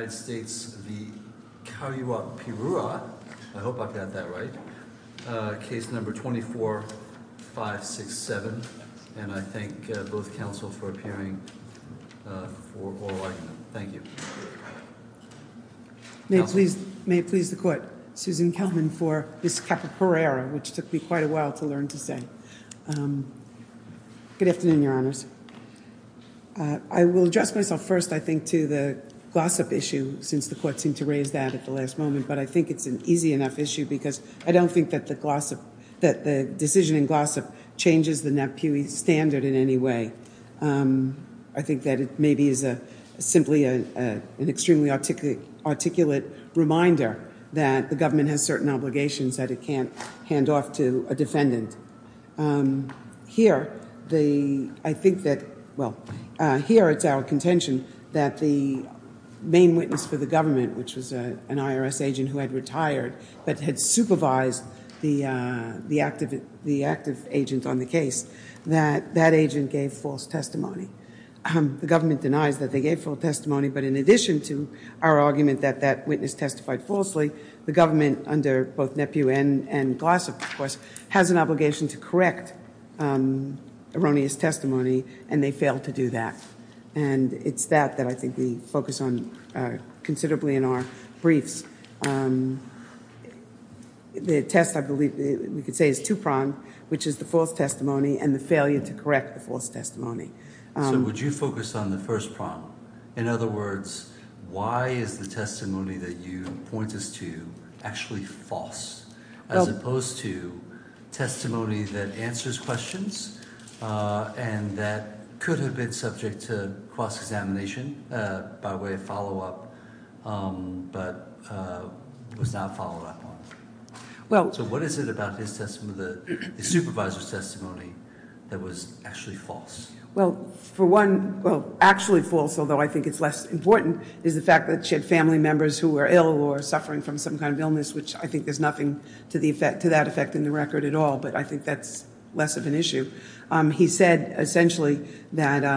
I hope I've got that right. Case number 24567. And I thank both counsel for appearing for oral argument. Thank you. May it please the court. Susan Kelman for Vizcapa Perera, which took me quite a while to learn to say. Good afternoon, your honors. I will address myself first, I think, to the gossip issue since the court seemed to raise that at the last moment. But I think it's an easy enough issue because I don't think that the decision in gossip changes the Nat Peewee standard in any way. I think that it maybe is simply an extremely articulate reminder that the government has certain obligations that it can't hand off to a defendant. Here, I think that, well, here it's our contention that the main witness for the government, which was an IRS agent who had retired but had supervised the active agent on the case, that that agent gave false testimony. The government denies that they gave false testimony, but in addition to our argument that that witness testified falsely, the government, under both NEPU and gossip, of course, has an obligation to correct erroneous testimony, and they failed to do that. And it's that that I think we focus on considerably in our briefs. The test, I believe, we could say is two-pronged, which is the false testimony and the failure to correct the false testimony. So would you focus on the first prong? In other words, why is the testimony that you point us to actually false, as opposed to testimony that answers questions and that could have been subject to cross-examination by way of follow-up but was not followed up on? So what is it about his testimony, the supervisor's testimony, that was actually false? Well, for one, actually false, although I think it's less important, is the fact that she had family members who were ill or suffering from some kind of illness, which I think there's nothing to that effect in the record at all, but I think that's less of an issue. He said, essentially, that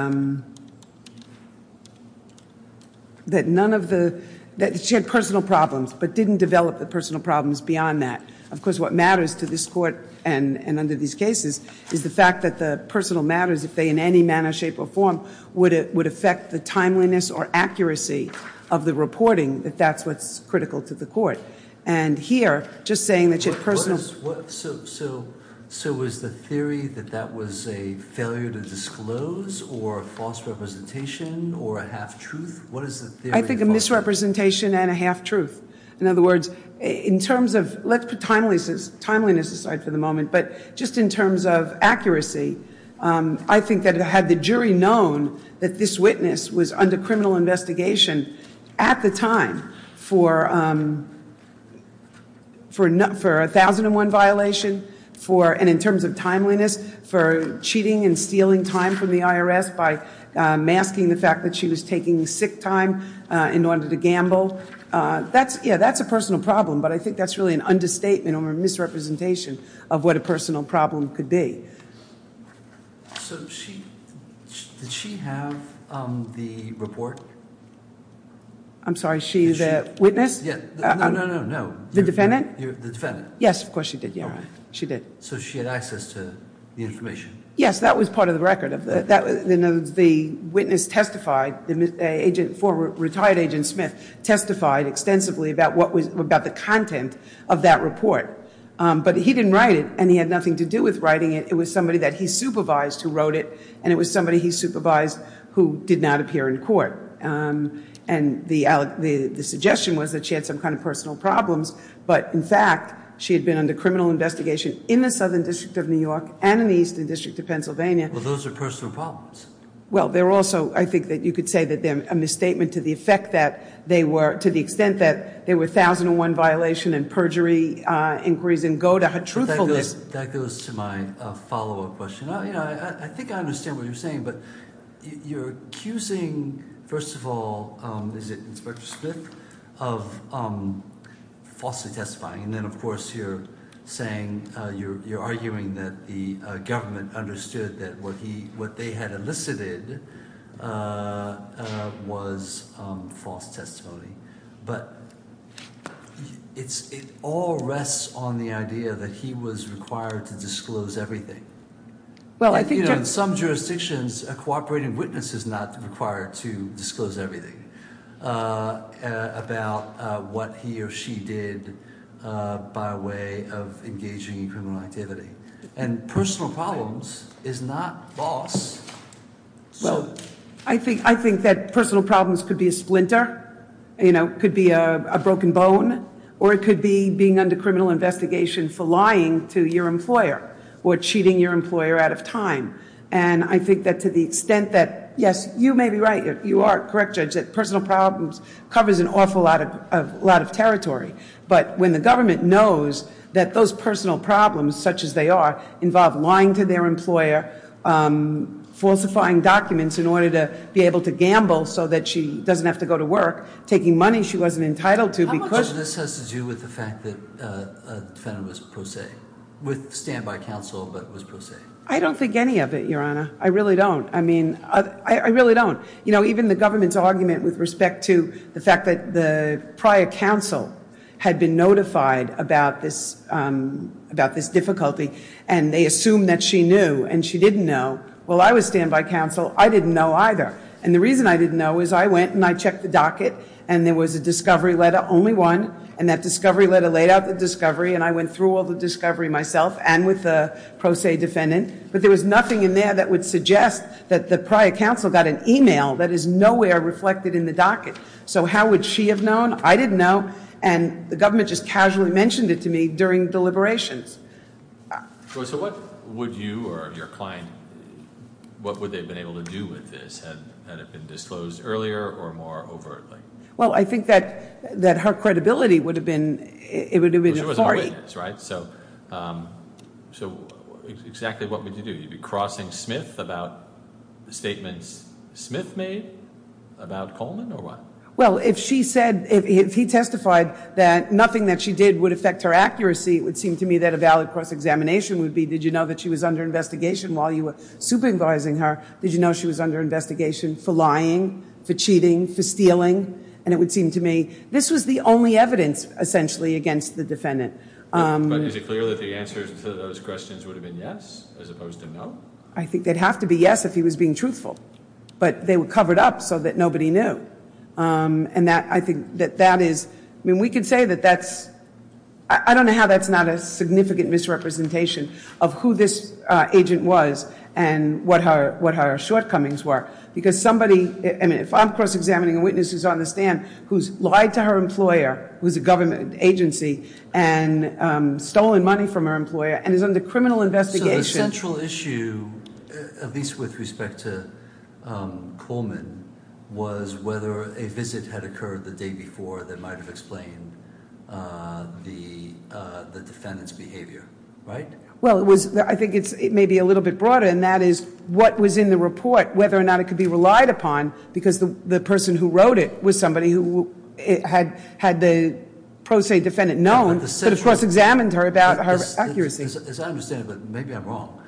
she had personal problems but didn't develop the personal problems beyond that. Of course, what matters to this Court and under these cases is the fact that the personal matters, if they in any manner, shape, or form, would affect the timeliness or accuracy of the reporting, that that's what's critical to the Court. And here, just saying that she had personal... So was the theory that that was a failure to disclose or a false representation or a half-truth? What is the theory? I think a misrepresentation and a half-truth. In other words, in terms of, let's put timeliness aside for the moment, but just in terms of accuracy, I think that had the jury known that this witness was under criminal investigation at the time for a 1001 violation, and in terms of timeliness, for cheating and stealing time from the IRS by masking the fact that she was taking sick time in order to gamble, yeah, that's a personal problem, but I think that's really an understatement or a misrepresentation of what a personal problem could be. So did she have the report? I'm sorry, she, the witness? No, no, no, no. The defendant? The defendant. Yes, of course she did, yeah. She did. So she had access to the information? Yes, that was part of the record. The witness testified, agent, retired agent Smith testified extensively about what was, about the content of that report. But he didn't write it, and he had nothing to do with writing it. It was somebody that he supervised who wrote it, and it was somebody he supervised who did not appear in court. And the suggestion was that she had some kind of personal problems, but in fact, she had been under criminal investigation in the Southern District of New York and in the Eastern District of Pennsylvania. Well, those are personal problems. Well, they're also, I think that you could say that they're a misstatement to the effect that they were, to the extent that there were 1,001 violation and perjury inquiries in Goda. Truthfully- That goes to my follow-up question. I think I understand what you're saying, but you're accusing, first of all, is it Inspector Smith, of falsely testifying. And then, of course, you're saying, you're arguing that the government understood that what they had elicited was false testimony. But it all rests on the idea that he was required to disclose everything. Well, I think- In some jurisdictions, a cooperating witness is not required to disclose everything about what he or she did by way of engaging in criminal activity. And personal problems is not false. Well, I think that personal problems could be a splinter, you know, could be a broken bone, or it could be being under criminal investigation for lying to your employer or cheating your employer out of time. And I think that to the extent that, yes, you may be right, you are correct, Judge, that personal problems covers an awful lot of territory. But when the government knows that those personal problems, such as they are, involve lying to their employer, falsifying documents in order to be able to gamble so that she doesn't have to go to work, taking money she wasn't entitled to because- How much of this has to do with the fact that the defendant was pro se, with standby counsel, but was pro se? I don't think any of it, Your Honor. I really don't. I mean, I really don't. You know, even the government's argument with respect to the fact that the prior counsel had been notified about this difficulty, and they assumed that she knew, and she didn't know. Well, I was standby counsel. I didn't know either. And the reason I didn't know was I went and I checked the docket, and there was a discovery letter, only one, and that discovery letter laid out the discovery, and I went through all the discovery myself and with the pro se defendant. But there was nothing in there that would suggest that the prior counsel got an email that is nowhere reflected in the docket. So how would she have known? I didn't know, and the government just casually mentioned it to me during deliberations. So what would you or your client, what would they have been able to do with this? Had it been disclosed earlier or more overtly? Well, I think that her credibility would have been, it would have been- She was a witness, right? So exactly what would you do? You'd be crossing Smith about statements Smith made about Coleman or what? Well, if she said, if he testified that nothing that she did would affect her accuracy, it would seem to me that a valid cross-examination would be, did you know that she was under investigation while you were supervising her? Did you know she was under investigation for lying, for cheating, for stealing? And it would seem to me this was the only evidence essentially against the defendant. But is it clear that the answers to those questions would have been yes as opposed to no? I think they'd have to be yes if he was being truthful. But they were covered up so that nobody knew. And I think that that is, I mean, we could say that that's, I don't know how that's not a significant misrepresentation of who this agent was and what her shortcomings were. Because somebody, I mean, if I'm cross-examining a witness who's on the stand who's lied to her employer, who's a government agency and stolen money from her employer and is under criminal investigation. So the central issue, at least with respect to Coleman, was whether a visit had occurred the day before that might have explained the defendant's behavior, right? Well, I think it may be a little bit broader, and that is what was in the report, whether or not it could be relied upon. Because the person who wrote it was somebody who had the pro se defendant known, but of course examined her about her accuracy. As I understand it, but maybe I'm wrong.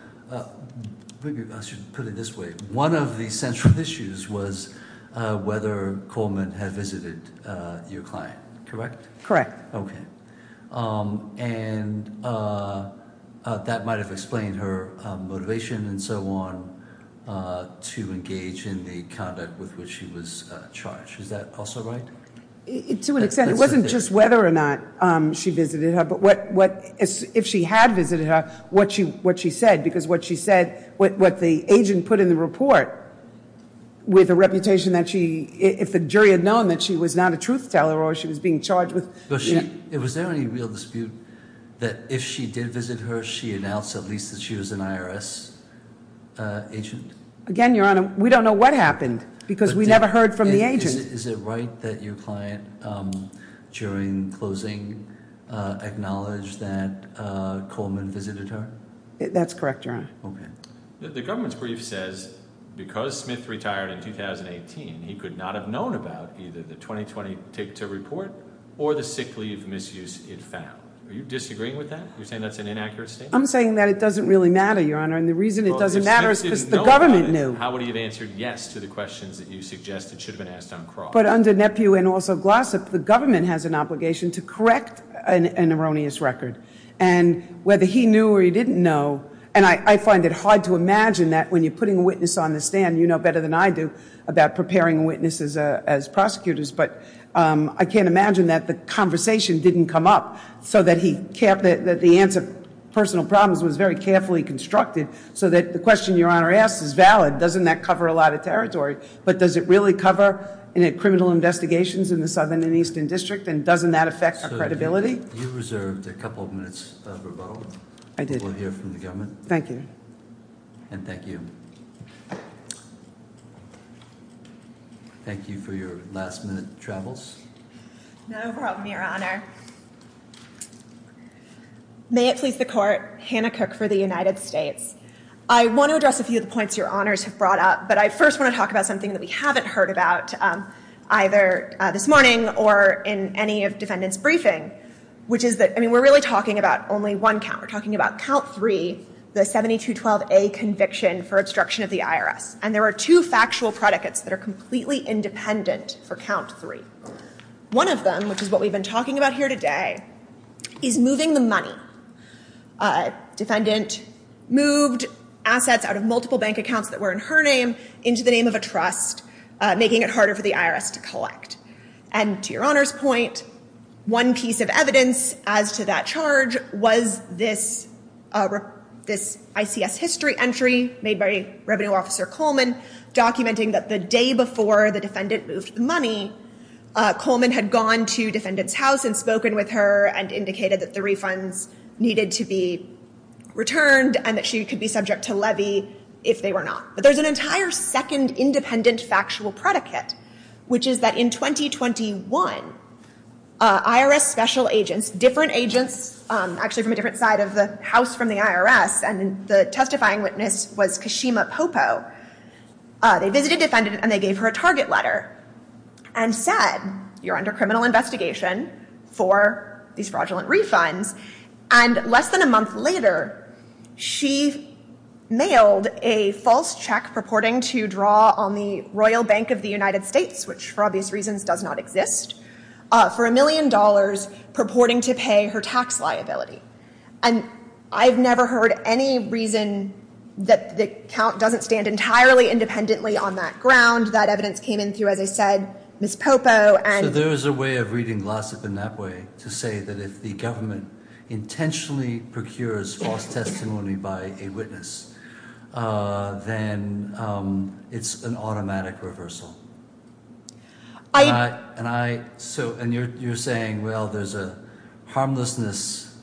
Maybe I should put it this way. One of the central issues was whether Coleman had visited your client, correct? Correct. Okay. And that might have explained her motivation and so on to engage in the conduct with which she was charged. Is that also right? To an extent. It wasn't just whether or not she visited her, but if she had visited her, what she said. Because what she said, what the agent put in the report with a reputation that she, if the jury had known that she was not a truth teller or she was being charged with- Was there any real dispute that if she did visit her, she announced at least that she was an IRS agent? Again, Your Honor, we don't know what happened because we never heard from the agent. Is it right that your client during closing acknowledged that Coleman visited her? That's correct, Your Honor. Okay. The government's brief says because Smith retired in 2018, he could not have known about either the 2020 TICTA report or the sick leave misuse it found. Are you disagreeing with that? You're saying that's an inaccurate statement? I'm saying that it doesn't really matter, Your Honor, and the reason it doesn't matter is because the government knew. If Smith didn't know about it, how would he have answered yes to the questions that you suggested should have been asked on cross? But under NEPU and also GLOSSIP, the government has an obligation to correct an erroneous record. Whether he knew or he didn't know, and I find it hard to imagine that when you're putting a witness on the stand, you know better than I do about preparing witnesses as prosecutors, but I can't imagine that the conversation didn't come up so that the answer, personal problems, was very carefully constructed so that the question Your Honor asked is valid. Doesn't that cover a lot of territory, but does it really cover criminal investigations in the Southern and Eastern District, and doesn't that affect our credibility? You reserved a couple of minutes of rebuttal. I did. We'll hear from the government. Thank you. And thank you. Thank you for your last-minute travels. No problem, Your Honor. May it please the Court, Hannah Cook for the United States. I want to address a few of the points Your Honors have brought up, but I first want to talk about something that we haven't heard about either this morning or in any of defendant's briefing, which is that we're really talking about only one count. We're talking about count three, the 7212A conviction for obstruction of the IRS, and there are two factual predicates that are completely independent for count three. One of them, which is what we've been talking about here today, is moving the money. Defendant moved assets out of multiple bank accounts that were in her name into the name of a trust, making it harder for the IRS to collect. And to Your Honor's point, one piece of evidence as to that charge was this ICS history entry made by Revenue Officer Coleman, documenting that the day before the defendant moved the money, Coleman had gone to defendant's house and spoken with her and indicated that the refunds needed to be returned and that she could be subject to levy if they were not. But there's an entire second independent factual predicate, which is that in 2021, IRS special agents, different agents actually from a different side of the house from the IRS, and the testifying witness was Kashima Popo, they visited defendant and they gave her a target letter and said, you're under criminal investigation for these fraudulent refunds. And less than a month later, she mailed a false check purporting to draw on the Royal Bank of the United States, which for obvious reasons does not exist, for a million dollars purporting to pay her tax liability. And I've never heard any reason that the count doesn't stand entirely independently on that ground. That evidence came in through, as I said, Ms. Popo. So there is a way of reading Glossop in that way to say that if the government intentionally procures false testimony by a witness, then it's an automatic reversal. And you're saying, well, there's a harmlessness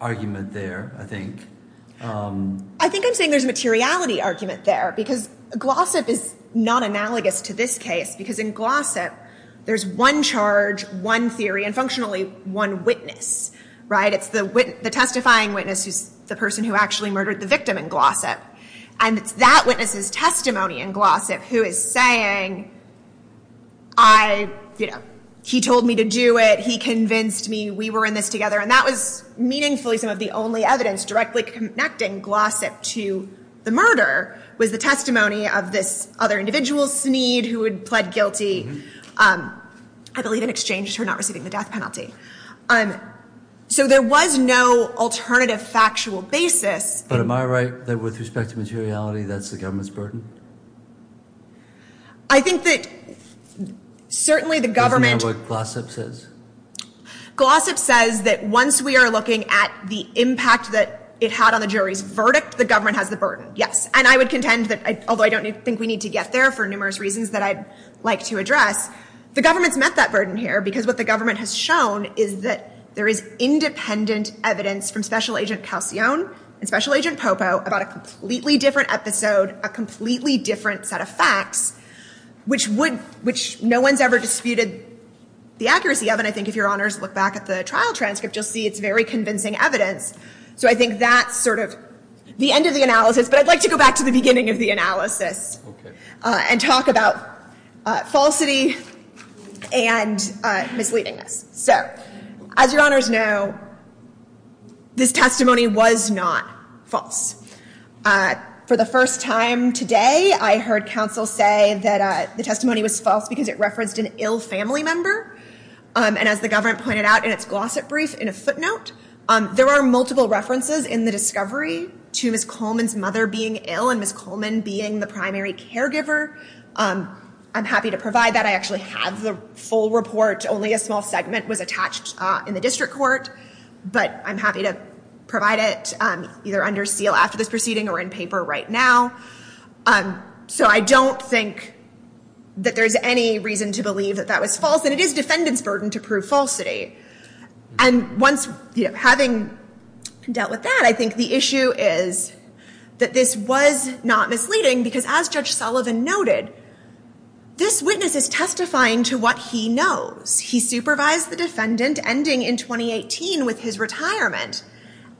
argument there, I think. I think I'm saying there's a materiality argument there, because Glossop is not analogous to this case, because in Glossop, there's one charge, one theory and functionally one witness, right? It's the testifying witness who's the person who actually murdered the victim in Glossop. And it's that witness's testimony in Glossop who is saying, I, you know, he told me to do it. He convinced me we were in this together. And that was meaningfully some of the only evidence directly connecting Glossop to the murder, was the testimony of this other individual, Sneed, who had pled guilty, I believe, in exchange for not receiving the death penalty. So there was no alternative factual basis. But am I right that with respect to materiality, that's the government's burden? I think that certainly the government— Isn't that what Glossop says? Glossop says that once we are looking at the impact that it had on the jury's verdict, the government has the burden, yes. And I would contend that, although I don't think we need to get there for numerous reasons that I'd like to address, the government's met that burden here, because what the government has shown is that there is independent evidence from Special Agent Calcione and Special Agent Popo about a completely different episode, a completely different set of facts, which no one's ever disputed the accuracy of. And I think if Your Honors look back at the trial transcript, you'll see it's very convincing evidence. So I think that's sort of the end of the analysis. But I'd like to go back to the beginning of the analysis and talk about falsity and misleadingness. So as Your Honors know, this testimony was not false. For the first time today, I heard counsel say that the testimony was false because it referenced an ill family member. And as the government pointed out in its Glossop brief, in a footnote, there are multiple references in the discovery to Ms. Coleman's mother being ill and Ms. Coleman being the primary caregiver. I'm happy to provide that. I actually have the full report. Only a small segment was attached in the district court. But I'm happy to provide it either under seal after this proceeding or in paper right now. So I don't think that there's any reason to believe that that was false. And it is defendant's burden to prove falsity. And once having dealt with that, I think the issue is that this was not misleading, because as Judge Sullivan noted, this witness is testifying to what he knows. He supervised the defendant ending in 2018 with his retirement,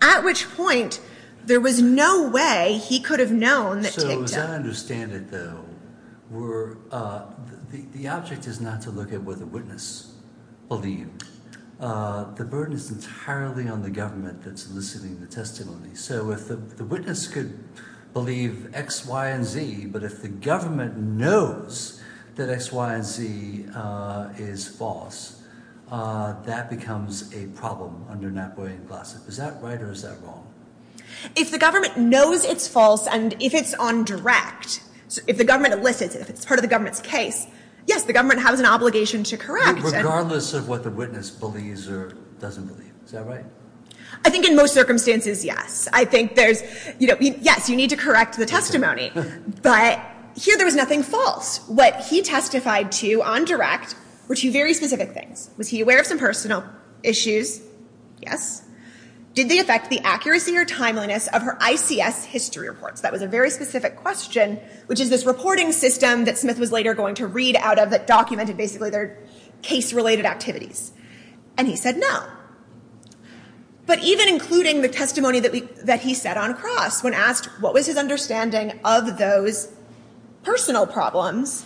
at which point there was no way he could have known. So as I understand it, though, the object is not to look at what the witness believed. The burden is entirely on the government that's eliciting the testimony. So if the witness could believe X, Y, and Z, but if the government knows that X, Y, and Z is false, that becomes a problem under Napoleon Glossop. Is that right or is that wrong? If the government knows it's false and if it's on direct, if the government elicits it, if it's part of the government's case, yes, the government has an obligation to correct. Regardless of what the witness believes or doesn't believe. Is that right? I think in most circumstances, yes. I think there's, you know, yes, you need to correct the testimony, but here there was nothing false. What he testified to on direct were two very specific things. Was he aware of some personal issues? Yes. Did they affect the accuracy or timeliness of her ICS history reports? That was a very specific question, which is this reporting system that Smith was later going to read out of that documented basically their case-related activities. And he said no. But even including the testimony that he said on cross when asked, what was his understanding of those personal problems,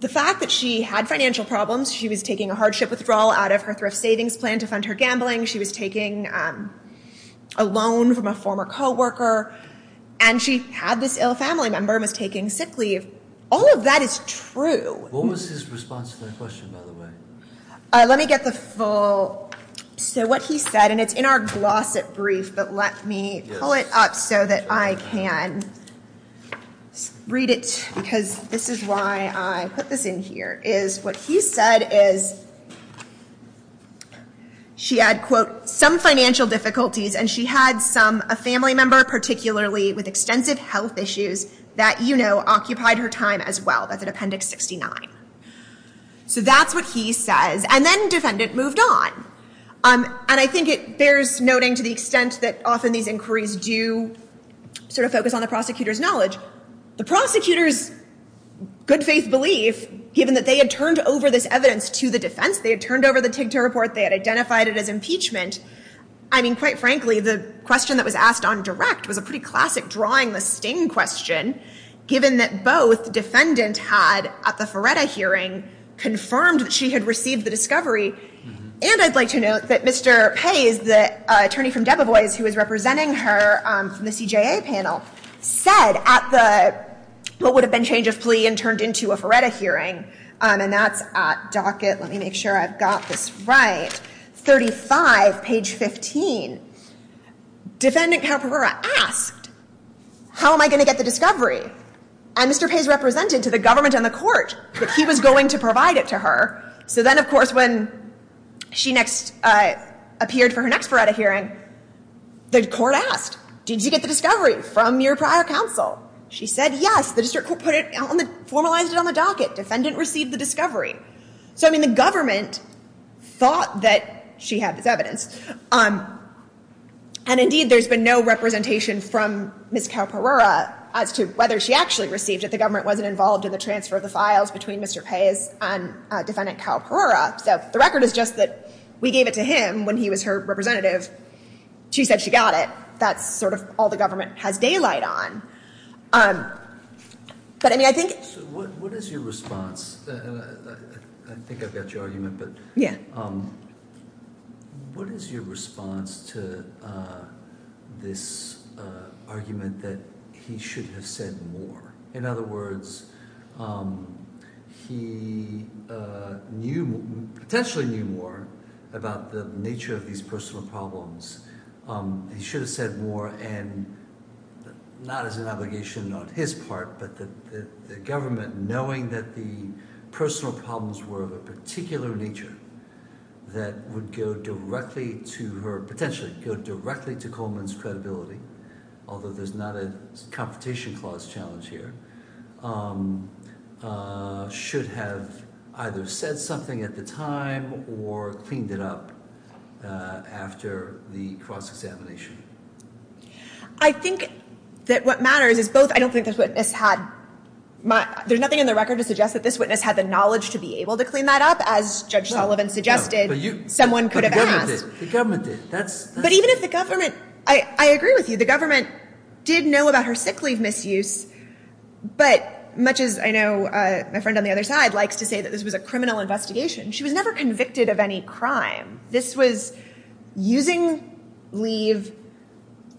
the fact that she had financial problems, she was taking a hardship withdrawal out of her thrift savings plan to fund her gambling, she was taking a loan from a former co-worker, and she had this ill family member and was taking sick leave. All of that is true. What was his response to that question, by the way? Let me get the full. So what he said, and it's in our glossary brief, but let me pull it up so that I can read it, because this is why I put this in here, is what he said is she had, quote, some financial difficulties and she had a family member particularly with extensive health issues that, you know, occupied her time as well. That's in Appendix 69. So that's what he says. And then defendant moved on. And I think it bears noting to the extent that often these inquiries do sort of focus on the prosecutor's knowledge. The prosecutor's good faith belief, given that they had turned over this evidence to the defense, they had turned over the TIGTA report, they had identified it as impeachment, I mean, quite frankly, the question that was asked on direct was a pretty classic drawing the sting question, given that both defendants had, at the Feretta hearing, confirmed that she had received the discovery. And I'd like to note that Mr. Pays, the attorney from Debevoise who was representing her from the CJA panel, said at what would have been change of plea and turned into a Feretta hearing, and that's at docket, let me make sure I've got this right, 35, page 15. Defendant Caterpillar asked, how am I going to get the discovery? And Mr. Pays represented to the government and the court that he was going to provide it to her. So then, of course, when she next appeared for her next Feretta hearing, the court asked, did you get the discovery from your prior counsel? She said yes. The district court put it out and formalized it on the docket. Defendant received the discovery. So, I mean, the government thought that she had this evidence. And, indeed, there's been no representation from Ms. Caterpillar as to whether she actually received it. The government wasn't involved in the transfer of the files between Mr. Pays and Defendant Caterpillar. So the record is just that we gave it to him when he was her representative. She said she got it. That's sort of all the government has daylight on. But, I mean, I think. What is your response? I think I've got your argument. Yeah. What is your response to this argument that he should have said more? In other words, he knew, potentially knew more about the nature of these personal problems. He should have said more and not as an obligation on his part, but the government, knowing that the personal problems were of a particular nature that would go directly to her, potentially go directly to Coleman's credibility, although there's not a confrontation clause challenge here, should have either said something at the time or cleaned it up after the cross-examination. I think that what matters is both. I don't think this witness had. There's nothing in the record to suggest that this witness had the knowledge to be able to clean that up, as Judge Sullivan suggested someone could have asked. The government did. But even if the government. I agree with you. The government did know about her sick leave misuse. But much as I know my friend on the other side likes to say that this was a criminal investigation, she was never convicted of any crime. This was using leave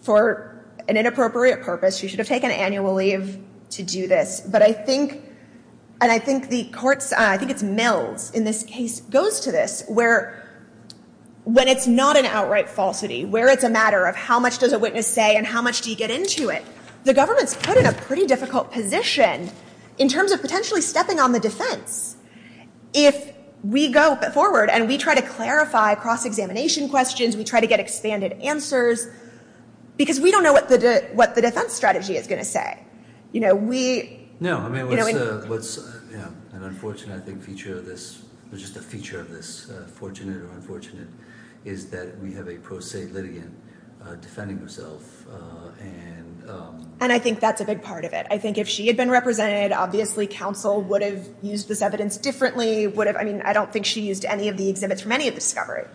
for an inappropriate purpose. She should have taken annual leave to do this. But I think, and I think the courts, I think it's Mills in this case, goes to this, where when it's not an outright falsity, where it's a matter of how much does a witness say and how much do you get into it, the government's put in a pretty difficult position in terms of potentially stepping on the defense. If we go forward and we try to clarify cross-examination questions, we try to get expanded answers, because we don't know what the defense strategy is going to say. No, I mean, what's an unfortunate feature of this, just a feature of this, fortunate or unfortunate, is that we have a pro se litigant defending herself. And I think that's a big part of it. I think if she had been represented, obviously counsel would have used this evidence differently. I mean, I don't think she used any of the exhibits from any of the discovery.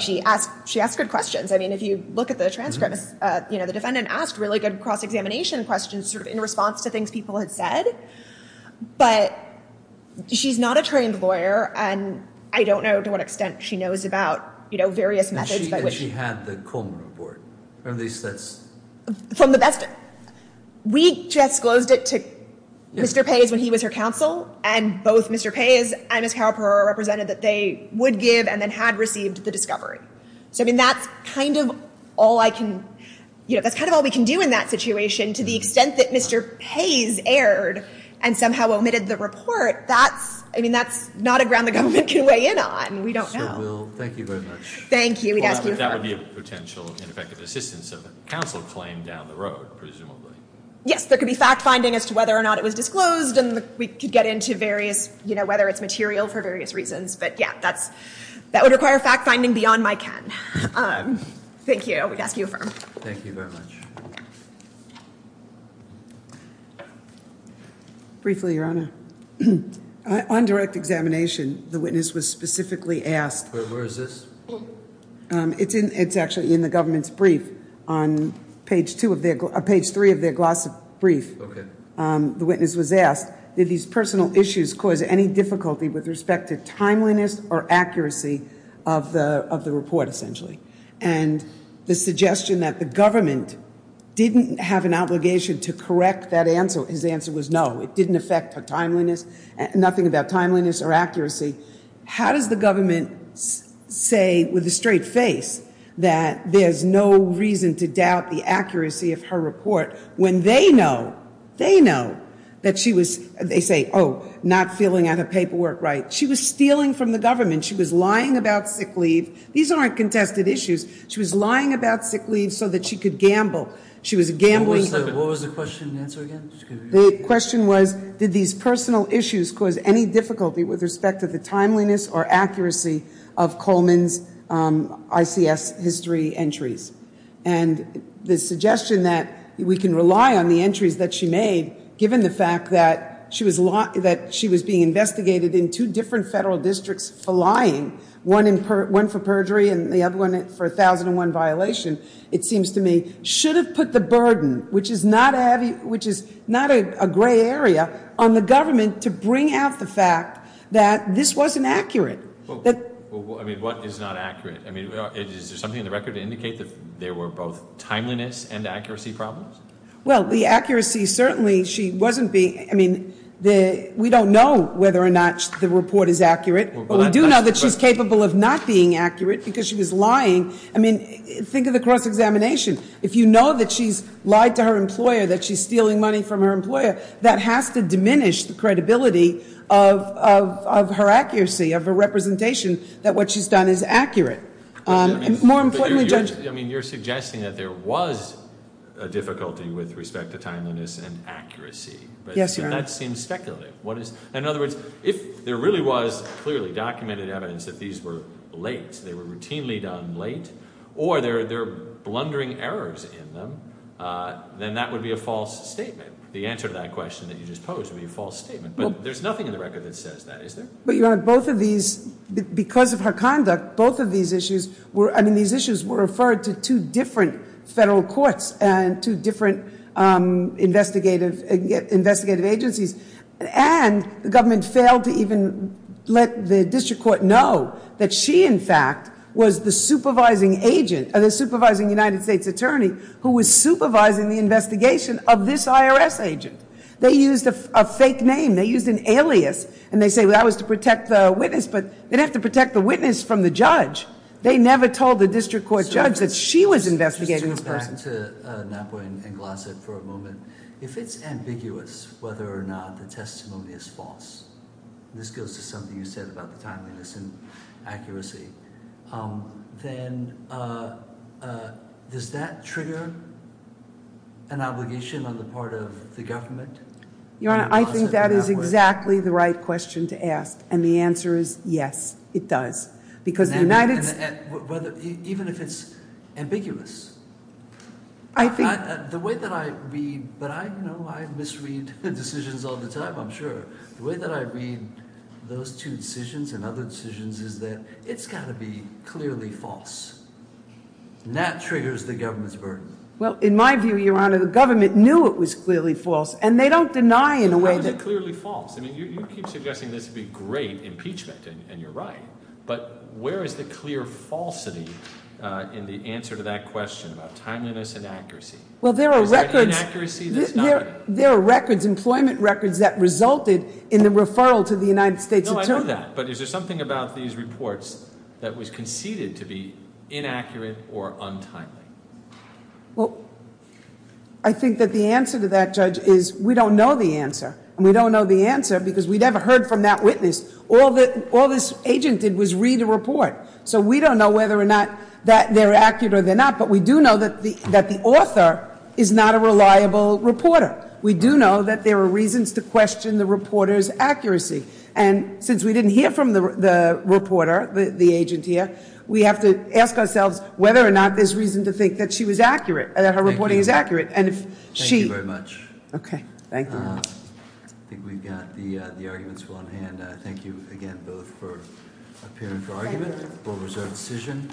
She asked good questions. I mean, if you look at the transcript, you know, the defendant asked really good cross-examination questions, sort of in response to things people had said. But she's not a trained lawyer, and I don't know to what extent she knows about, you know, various methods. And she had the Coleman Report, or at least that's. From the best. We disclosed it to Mr. Pays when he was her counsel, and both Mr. Pays and Ms. Caraparra represented that they would give and then had received the discovery. So, I mean, that's kind of all I can, you know, that's kind of all we can do in that situation to the extent that Mr. Pays erred and somehow omitted the report. That's, I mean, that's not a ground the government can weigh in on. We don't know. Thank you very much. Thank you. That would be a potential and effective assistance of counsel claim down the road, presumably. Yes, there could be fact finding as to whether or not it was disclosed, and we could get into various, you know, whether it's material for various reasons. But, yeah, that would require fact finding beyond my ken. Thank you. I would ask you to affirm. Thank you very much. Briefly, Your Honor. On direct examination, the witness was specifically asked. Where is this? It's actually in the government's brief on page two of their, page three of their glossary brief. Okay. The witness was asked, did these personal issues cause any difficulty with respect to timeliness or accuracy of the report, essentially? And the suggestion that the government didn't have an obligation to correct that answer, his answer was no. It didn't affect her timeliness, nothing about timeliness or accuracy. How does the government say with a straight face that there's no reason to doubt the accuracy of her report when they know, they know, that she was, they say, oh, not filling out her paperwork right. She was stealing from the government. She was lying about sick leave. These aren't contested issues. She was lying about sick leave so that she could gamble. She was gambling. What was the question and answer again? The question was, did these personal issues cause any difficulty with respect to the timeliness or accuracy of Coleman's ICS history entries? And the suggestion that we can rely on the entries that she made, given the fact that she was being investigated in two different federal districts for lying, one for perjury and the other one for a 1001 violation, it seems to me, should have put the burden, which is not a gray area, on the government to bring out the fact that this wasn't accurate. I mean, what is not accurate? I mean, is there something in the record to indicate that there were both timeliness and accuracy problems? Well, the accuracy certainly, she wasn't being, I mean, we don't know whether or not the report is accurate, but we do know that she's capable of not being accurate because she was lying. I mean, think of the cross-examination. If you know that she's lied to her employer, that she's stealing money from her employer, that has to diminish the credibility of her accuracy, of her representation, that what she's done is accurate. More importantly, Judge. I mean, you're suggesting that there was a difficulty with respect to timeliness and accuracy. Yes, Your Honor. And that seems speculative. In other words, if there really was clearly documented evidence that these were late, they were routinely done late, or there are blundering errors in them, then that would be a false statement. The answer to that question that you just posed would be a false statement. But there's nothing in the record that says that, is there? But, Your Honor, both of these, because of her conduct, both of these issues were, I mean, these issues were referred to two different federal courts and two different investigative agencies. And the government failed to even let the district court know that she, in fact, was the supervising agent, the supervising United States attorney, who was supervising the investigation of this IRS agent. They used a fake name. They used an alias. And they say, well, that was to protect the witness. But they'd have to protect the witness from the judge. They never told the district court judge that she was investigating this person. Just to go back to Napoi and Glossett for a moment. If it's ambiguous whether or not the testimony is false, this goes to something you said about the timeliness and accuracy. Then does that trigger an obligation on the part of the government? Your Honor, I think that is exactly the right question to ask. And the answer is yes, it does. Because the United States. Even if it's ambiguous. I think. The way that I read, but I, you know, I misread decisions all the time, I'm sure. The way that I read those two decisions and other decisions is that it's got to be clearly false. And that triggers the government's burden. Well, in my view, Your Honor, the government knew it was clearly false. And they don't deny in a way that. How is it clearly false? I mean, you keep suggesting this would be great impeachment. And you're right. But where is the clear falsity in the answer to that question about timeliness and accuracy? Well, there are records. Is there any inaccuracy that's not? There are records, employment records, that resulted in the referral to the United States Attorney. No, I know that. But is there something about these reports that was conceded to be inaccurate or untimely? Well, I think that the answer to that, Judge, is we don't know the answer. And we don't know the answer because we never heard from that witness. All this agent did was read the report. So we don't know whether or not they're accurate or they're not. But we do know that the author is not a reliable reporter. We do know that there are reasons to question the reporter's accuracy. And since we didn't hear from the reporter, the agent here, we have to ask ourselves whether or not there's reason to think that she was accurate, that her reporting is accurate. Thank you. Thank you very much. Okay. Thank you. I think we've got the arguments well in hand. Thank you again both for appearing for argument. We'll reserve decision.